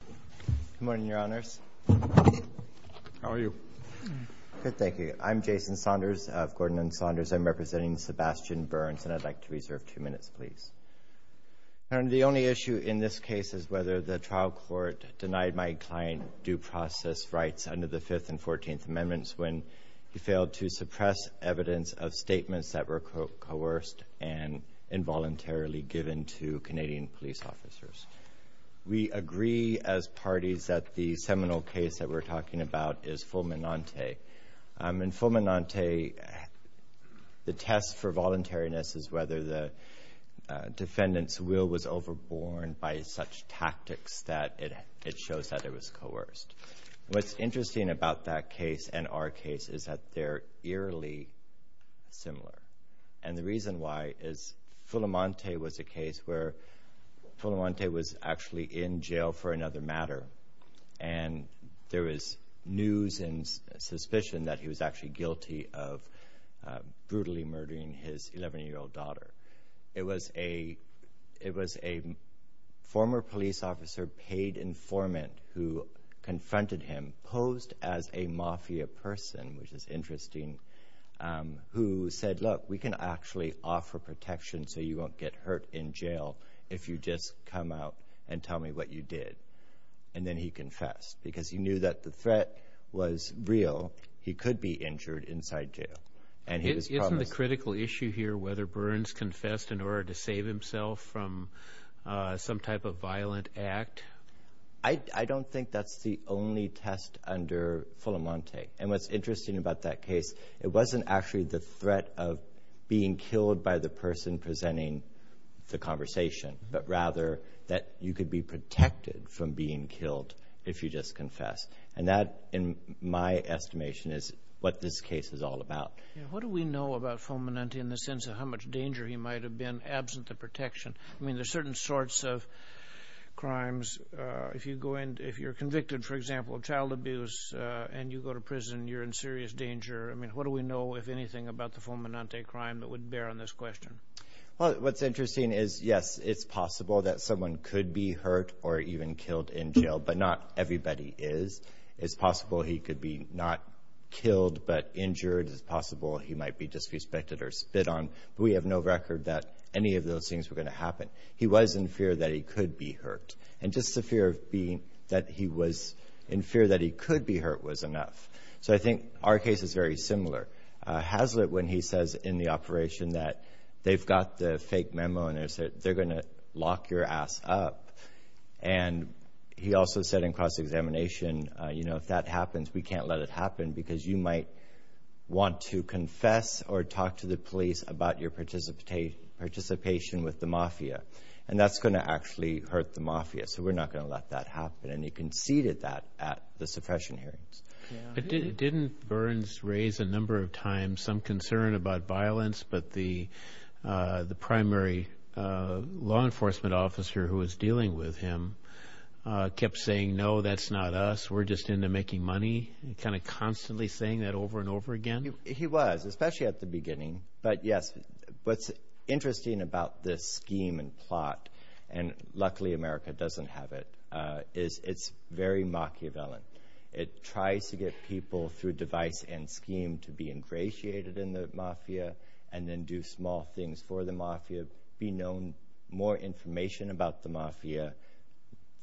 Good morning, your honors. How are you? Good, thank you. I'm Jason Saunders of Gordon and Saunders. I'm representing Sebastian Burns and I'd like to reserve two minutes, please. The only issue in this case is whether the trial court denied my client due process rights under the 5th and 14th amendments when he failed to suppress evidence of statements that were coerced and voluntarily given to Canadian police officers. We agree as parties that the seminal case that we're talking about is Fulminante. In Fulminante, the test for voluntariness is whether the defendant's will was overborne by such tactics that it shows that it was coerced. What's interesting about that Fulminante was a case where Fulminante was actually in jail for another matter and there is news and suspicion that he was actually guilty of brutally murdering his 11-year-old daughter. It was a former police officer, paid informant, who confronted him, posed as a mafia person, which is interesting, who said look we can actually offer protection so you won't get hurt in jail if you just come out and tell me what you did and then he confessed because he knew that the threat was real. He could be injured inside jail. Isn't the critical issue here whether Burns confessed in order to save himself from some type of violent act? I don't think that's the only test under Fulminante and what's actually the threat of being killed by the person presenting the conversation but rather that you could be protected from being killed if you just confess and that in my estimation is what this case is all about. What do we know about Fulminante in the sense of how much danger he might have been absent the protection? I mean there's certain sorts of crimes. If you go in, if you're convicted for example of child abuse and you go to prison you're in serious danger. I mean what do we know if anything about the Fulminante crime that would bear on this question? What's interesting is yes it's possible that someone could be hurt or even killed in jail but not everybody is. It's possible he could be not killed but injured. It's possible he might be disrespected or spit on. We have no record that any of those things were going to happen. He was in fear that he could be hurt and just the fear of being that he was in fear that he could be hurt was enough. So I think our case is very similar. Hazlitt when he says in the operation that they've got the fake memo and they said they're gonna lock your ass up and he also said in cross-examination you know if that happens we can't let it happen because you might want to confess or talk to the police about your participation with the mafia and that's gonna actually hurt the mafia so we're not gonna let that happen and he didn't raise a number of times some concern about violence but the the primary law enforcement officer who was dealing with him kept saying no that's not us we're just into making money and kind of constantly saying that over and over again. He was especially at the beginning but yes what's interesting about this scheme and plot and luckily America doesn't have it is it's very Machiavellian. It tries to get people through device and scheme to be ingratiated in the mafia and then do small things for the mafia be known more information about the mafia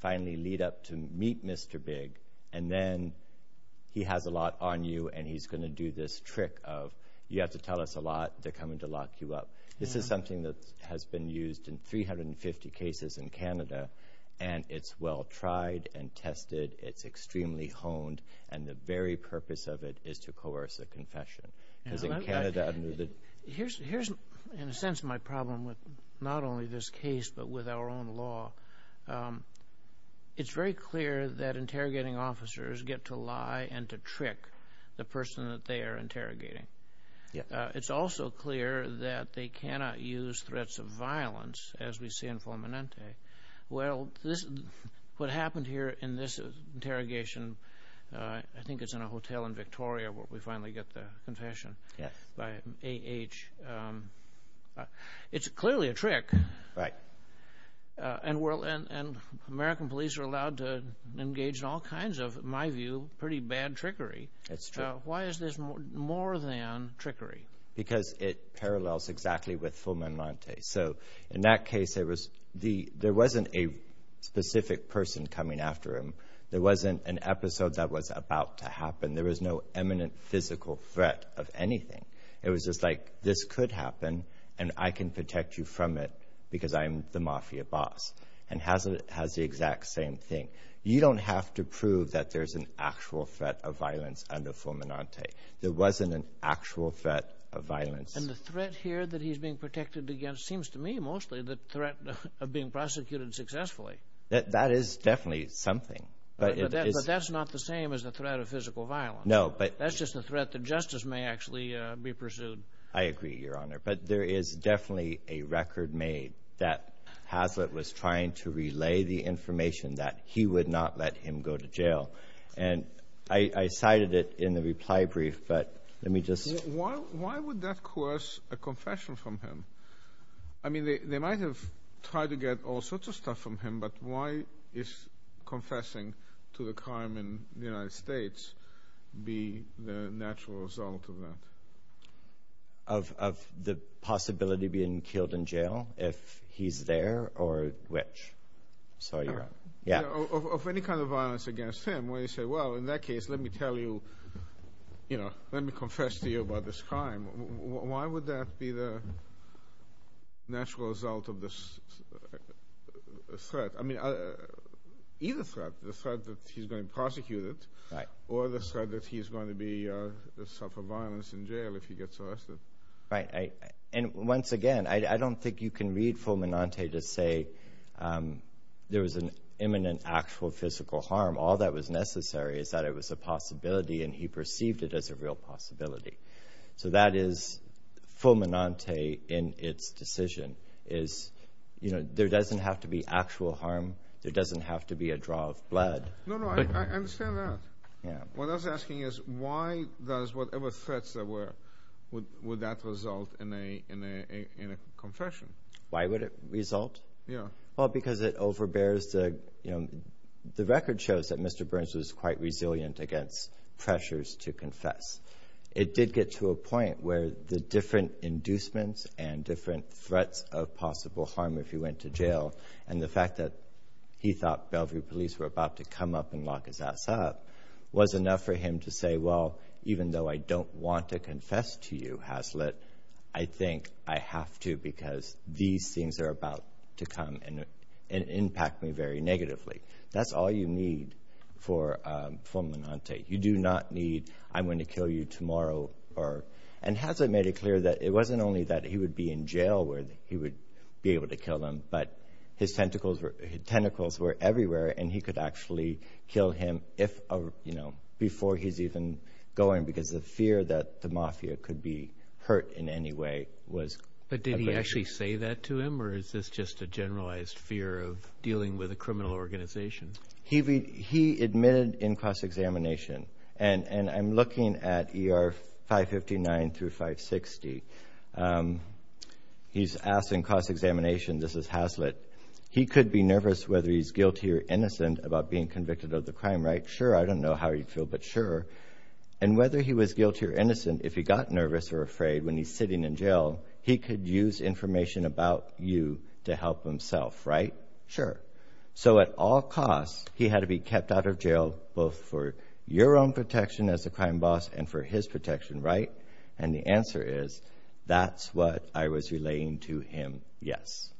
finally lead up to meet Mr. Big and then he has a lot on you and he's gonna do this trick of you have to tell us a lot they're coming to lock you up. This is something that has been used in 350 cases in Canada and it's well tried and tested it's extremely honed and the very purpose of it is to coerce a confession. Here's in a sense my problem with not only this case but with our own law. It's very clear that interrogating officers get to lie and to trick the person that they are interrogating. It's also clear that they cannot use threats of violence as we see in Fulminante. Well this what happened here in this interrogation I think it's in a hotel in Victoria where we finally get the confession. Yes. By AH. It's clearly a trick. Right. And well and American police are allowed to engage in all kinds of my view pretty bad trickery. That's true. Why is this more than trickery? Because it parallels exactly with Fulminante. So in that case there was the there wasn't a specific person coming after him. There wasn't an episode that was about to happen. There was no eminent physical threat of anything. It was just like this could happen and I can protect you from it because I'm the mafia boss and has it has the exact same thing. You don't have to prove that there's an actual threat of violence under Fulminante. There wasn't an actual threat of violence. And the threat here that he's being protected against seems to me mostly the threat of being prosecuted successfully. That is definitely something. But that's not the same as the threat of physical violence. No. But that's just a threat that justice may actually be pursued. I agree your honor. But there is definitely a record made that Hazlitt was trying to relay the information that he would not let him go to jail. And I cited it in the reply brief but let me just... Why would that coerce a confession from him? I mean they might have tried to get all sorts of stuff from him but why is confessing to the crime in the United States be the natural result of that? Of the possibility being killed in jail if he's there or which? Of any kind of violence against him where you say well in that case let me tell you you know let me confess to you about this crime. Why would that be the natural result of this threat? I mean either threat. The threat that he's going to prosecute it or the threat that he's going to suffer violence in jail if he gets arrested. Right. And once again I don't think you can read Full Monante to say there was an imminent actual physical harm. All that was necessary is that it was a possibility and he perceived it as a real possibility. So that is Full Monante in its decision is you know there doesn't have to be actual harm. There doesn't have to be a draw of blood. No, no. I understand that. What I was asking is why does whatever threats there would that result in a confession? Why would it result? Yeah. Well because it overbears the you know the record shows that Mr. Burns was quite resilient against pressures to confess. It did get to a point where the different inducements and different threats of possible harm if he went to jail and the fact that he thought Bellevue police were about to come up and lock his ass up was enough for him to say well even though I don't want to confess to you Hazlitt I think I have to because these things are about to come and impact me very negatively. That's all you need for Full Monante. You do not need I'm going to kill you tomorrow or and Hazlitt made it clear that it wasn't only that he would be in jail where he would be able to kill him but his tentacles were everywhere and he could actually kill him before he's even going because of fear that the mafia could be hurt in any way. But did he actually say that to him or is this just a generalized fear of dealing with a criminal organization? He admitted in cross-examination and and I'm looking at ER 559 through 560. He's asked in cross-examination, this is Hazlitt, he could be nervous whether he's guilty or innocent about being convicted of the crime, right? Sure, I don't know how he'd feel but sure. And whether he was guilty or innocent if he got nervous or afraid when he's sitting in jail he could use information about you to help himself, right? Sure. So at all costs he had to be kept out of jail both for your own protection as a crime boss and for his protection, right? And the answer is that's what I was relaying to him, yes.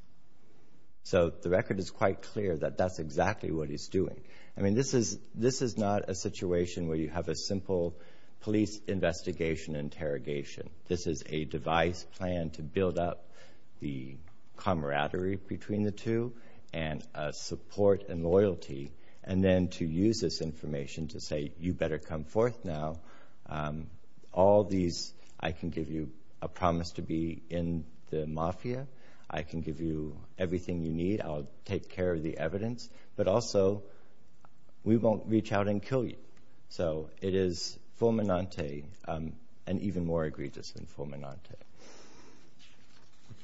So the record is quite clear that that's exactly what he's doing. I mean this is this is not a situation where you have a simple police investigation interrogation. This is a device planned to build up the camaraderie between the two and support and loyalty and then to use this information to say you better come forth now. All these, I can give you a promise to be in the mafia. I can give you everything you need. I'll take care of the evidence but also we won't reach out and kill you. So it is fulminante and even more egregious than fulminante.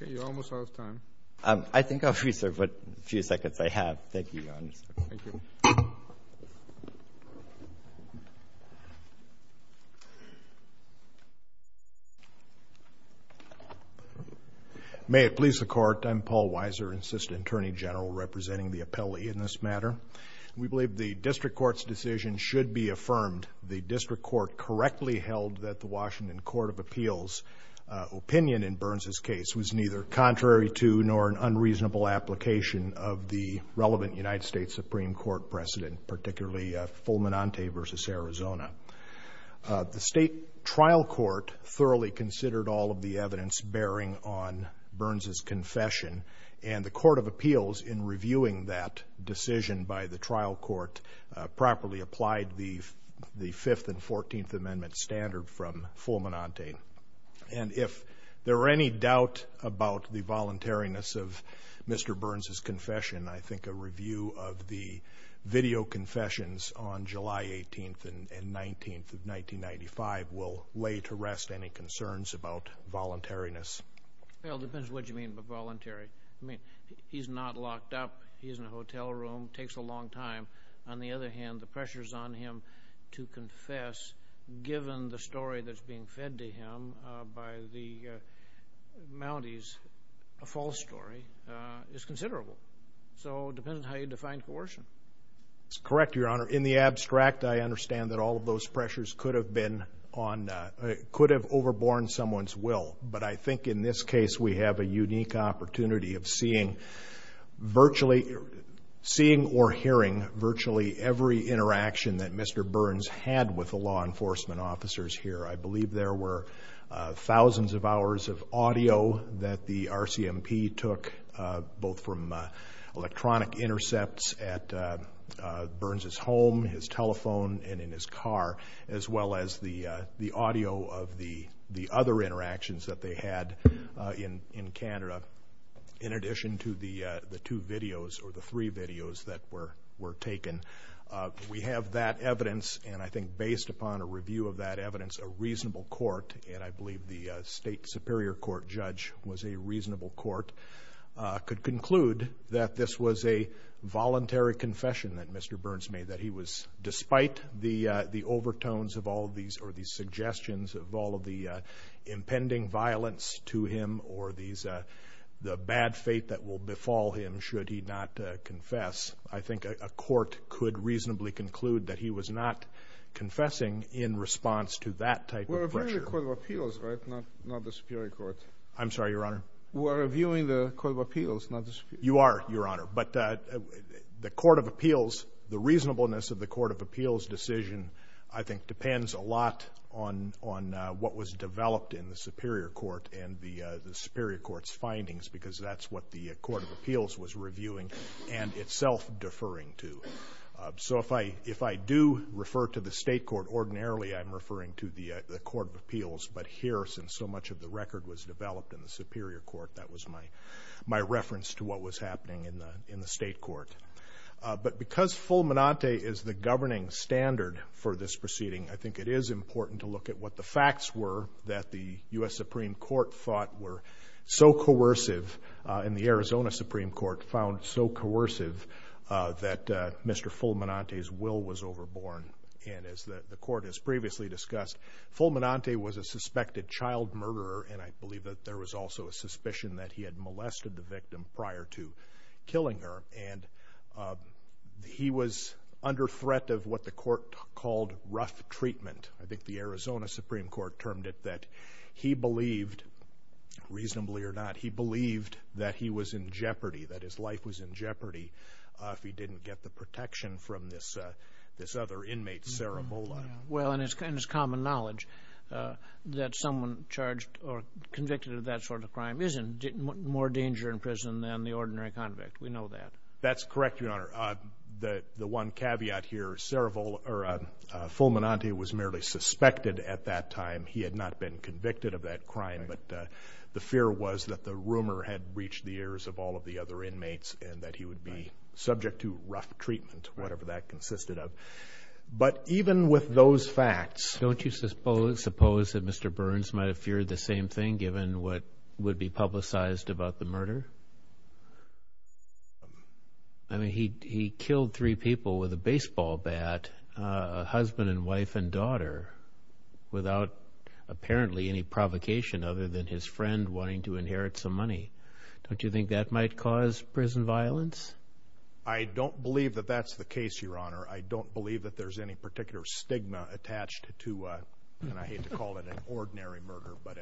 Okay, you're almost out of time. I think I'll free serve but a few seconds I have. Thank you, Your Honor. May it please the Court, I'm Paul Weiser, Assistant Attorney General representing the appellee in this matter. We believe the District Court's decision should be affirmed. The District Court correctly held that the Washington Court of Appeals opinion in Burns's case was neither contrary to nor an unreasonable application of the relevant United States Supreme Court precedent, particularly fulminante versus Arizona. The State Trial Court thoroughly considered all of the evidence bearing on Burns's confession and the Court of Appeals in reviewing that decision by the trial court properly applied the the Fifth and Fourteenth Amendment standard from fulminante. And if there are any doubt about the voluntariness of Mr. Burns's confession, I think a review of the video confessions on July 18th and 19th of 1995 will lay to rest any concerns about voluntariness. Well, it depends what you mean by voluntary. I mean, he's not locked up, he's in a hotel room, takes a long time. On the other hand, the Mounties, a false story, is considerable. So, it depends on how you define coercion. It's correct, Your Honor. In the abstract, I understand that all of those pressures could have been on, could have overborne someone's will, but I think in this case we have a unique opportunity of seeing virtually, seeing or hearing virtually every interaction that Mr. Burns had with the law enforcement officers here. I think the audio that the RCMP took, both from electronic intercepts at Burns's home, his telephone, and in his car, as well as the the audio of the the other interactions that they had in in Canada, in addition to the the two videos or the three videos that were were taken, we have that evidence and I think based upon a review of that evidence, a reasonable court, and I believe the state superior court judge was a reasonable court, could conclude that this was a voluntary confession that Mr. Burns made, that he was, despite the the overtones of all these or these suggestions of all of the impending violence to him or these the bad fate that will befall him should he not confess, I think a court could reasonably conclude that he was not confessing in response to that type of pressure. You're reviewing the Court of Appeals, right? Not the Superior Court. I'm sorry, Your Honor. We're reviewing the Court of Appeals, not the Superior Court. You are, Your Honor, but the Court of Appeals, the reasonableness of the Court of Appeals decision, I think, depends a lot on on what was developed in the Superior Court and the the Superior Court's findings because that's what the Court of Appeals was reviewing and itself deferring to. So if I if I do refer to the state court ordinarily, I'm referring to the the Court of Appeals, but here, since so much of the record was developed in the Superior Court, that was my my reference to what was happening in the in the state court. But because Fulminante is the governing standard for this proceeding, I think it is important to look at what the facts were that the U.S. Supreme Court thought were so coercive and the Arizona Supreme Court found so coercive that Mr. Fulminante's will was overborne. And as the court has previously discussed, Fulminante was a suspected child murderer, and I believe that there was also a suspicion that he had molested the victim prior to killing her. And he was under threat of what the court called rough treatment. I think the Arizona Supreme Court termed it that he believed, reasonably or not, he believed that he was in jeopardy, that his life was in jeopardy, if he didn't get the protection from this this other inmate, Sara Bola. Well, and it's kind of common knowledge that someone charged or convicted of that sort of crime is in more danger in prison than the ordinary convict. We know that. That's correct, Your Honor. The one caveat here, Fulminante was merely suspected at that time. He had not been convicted of that crime, but the fear was that the rumor had reached the ears of all of the other inmates and that he would be subject to rough treatment, whatever that consisted of. But even with those facts... Don't you suppose that Mr. Burns might have feared the same thing, given what would be publicized about the murder? I mean, he killed three people with a baseball bat, a husband and wife and daughter, without apparently any provocation other than his friend wanting to inherit some money. Don't you think that might cause prison violence? I don't believe that that's the case, Your Honor. And I hate to call it an ordinary murder, but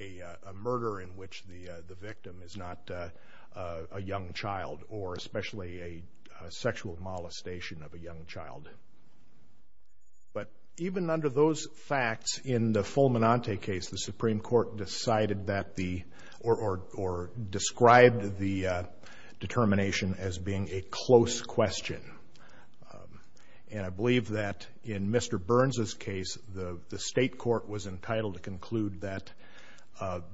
a murder in which the the victim is not a young child or especially a sexual molestation of a young child. But even under those facts, in the Fulminante case, the Supreme Court decided that the... or described the determination as being a close question. And I believe that in Mr. Burns' case, the the state court was entitled to conclude that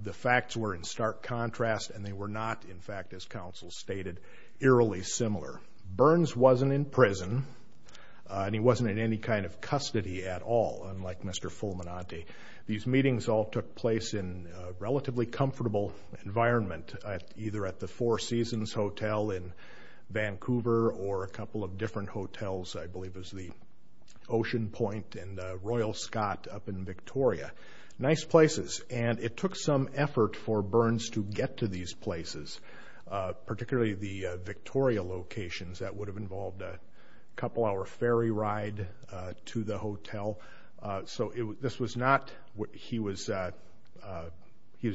the facts were in stark contrast and they were not, in fact, as counsel stated, eerily similar. Burns wasn't in prison and he wasn't in any kind of custody at all, unlike Mr. Fulminante. These meetings all took place in a relatively comfortable environment, either at the Four Seasons Hotel in or a couple of different hotels. I believe it was the Ocean Point and Royal Scott up in Victoria. Nice places. And it took some effort for Burns to get to these places, particularly the Victoria locations. That would have involved a couple hour ferry ride to the hotel. So this was not... he was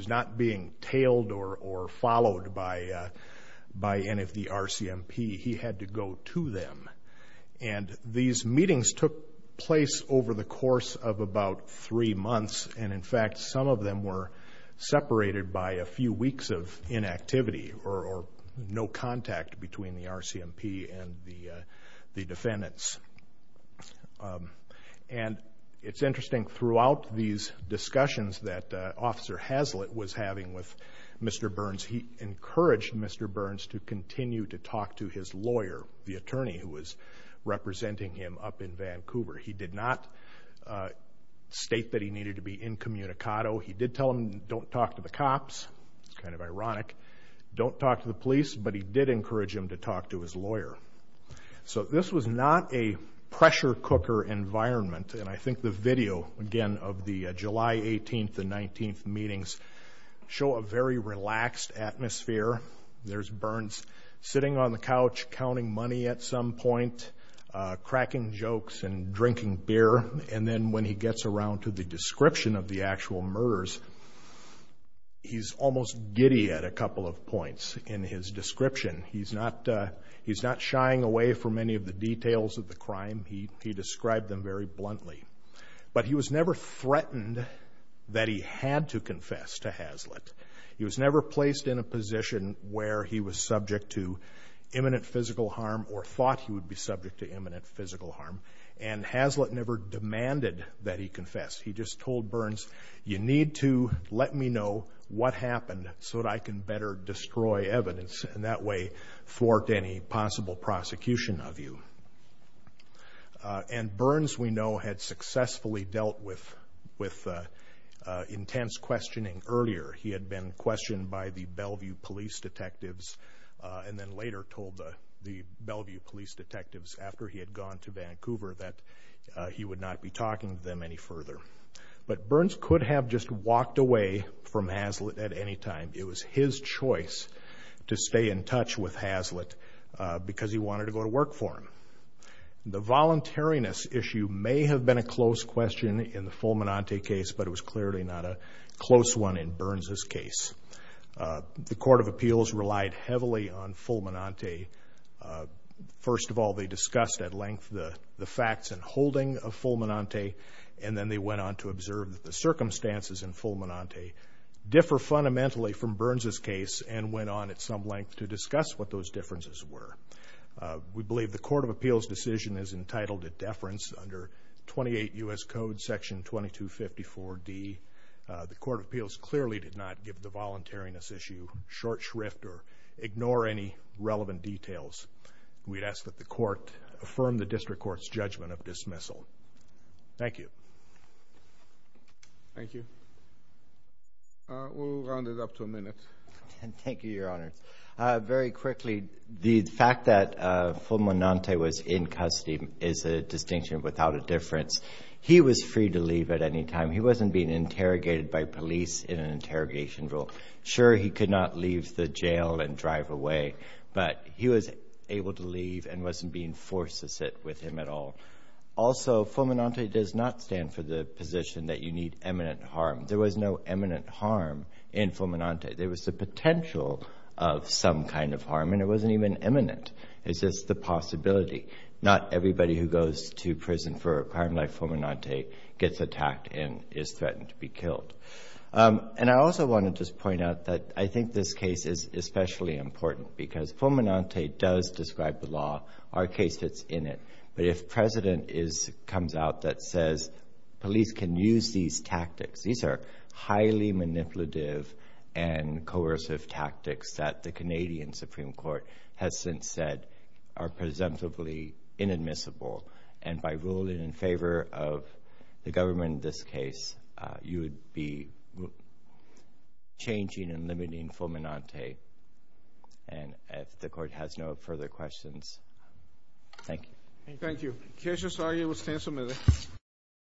not being tailed or followed by any of the RCMP. He had to go to them. And these meetings took place over the course of about three months and, in fact, some of them were separated by a few weeks of inactivity or no contact between the RCMP and the defendants. And it's interesting, throughout these meetings that I'm having with Mr. Burns, he encouraged Mr. Burns to continue to talk to his lawyer, the attorney who was representing him up in Vancouver. He did not state that he needed to be incommunicado. He did tell him don't talk to the cops. It's kind of ironic. Don't talk to the police. But he did encourage him to talk to his lawyer. So this was not a pressure cooker environment. And I show a very relaxed atmosphere. There's Burns sitting on the couch counting money at some point, cracking jokes and drinking beer. And then when he gets around to the description of the actual murders, he's almost giddy at a couple of points in his description. He's not shying away from any of the details of the crime. He described them very bluntly. But he was never threatened that he had to confess to Hazlitt. He was never placed in a position where he was subject to imminent physical harm or thought he would be subject to imminent physical harm. And Hazlitt never demanded that he confess. He just told Burns, you need to let me know what happened so that I can better destroy evidence. And that way, thwart any possible prosecution of you. And Burns, we know, had successfully dealt with intense questioning earlier. He had been questioned by the Bellevue police detectives and then later told the Bellevue police detectives, after he had gone to Vancouver, that he would not be talking to them any further. But Burns could have just walked away from Hazlitt at any time. It was his choice to stay in touch with Hazlitt because he wanted to go to work for him. The voluntariness issue may have been a close question in the Fulminante case, but it was clearly not a close one in Burns's case. The Court of Appeals relied heavily on Fulminante. First of all, they discussed at length the facts and holding of Fulminante. And then they went on to observe that the circumstances in Fulminante differ fundamentally from Burns's case and went on at some length to discuss what those differences were. We believe the Court of Appeals decision is entitled to deference under 28 U.S. Code, Section 2254D. The Court of Appeals clearly did not give the voluntariness issue short shrift or ignore any relevant details. We'd ask that the Court affirm the District Court's judgment of dismissal. Thank you. Thank you. We'll round it up to a minute. Thank you, Your Honor. Very quickly, the fact that Fulminante was in custody is a distinction without a difference. He was free to leave at any time. He wasn't being interrogated by police in an interrogation role. Sure, he could not leave the jail and drive away, but he was able to leave and wasn't being forced to sit with him at all. Also, Fulminante does not stand for the position that you need eminent harm. There was no eminent harm in Fulminante. There was the potential of some kind of harm, and it wasn't even eminent. It's just the possibility. Not everybody who goes to prison for a crime like Fulminante gets attacked and is threatened to be killed. And I also want to just point out that I think this case is especially important because Fulminante does describe the law. Our case fits in it. But if President comes out that says police can use these tactics, these are highly manipulative and coercive tactics that the Canadian Supreme Court has since said are presumptively inadmissible. And by ruling in favor of the government in this case, you would be changing and limiting Fulminante. And if the Court has no further questions, thank you. Thank you. Thank you. The case is now able to stand for a minute.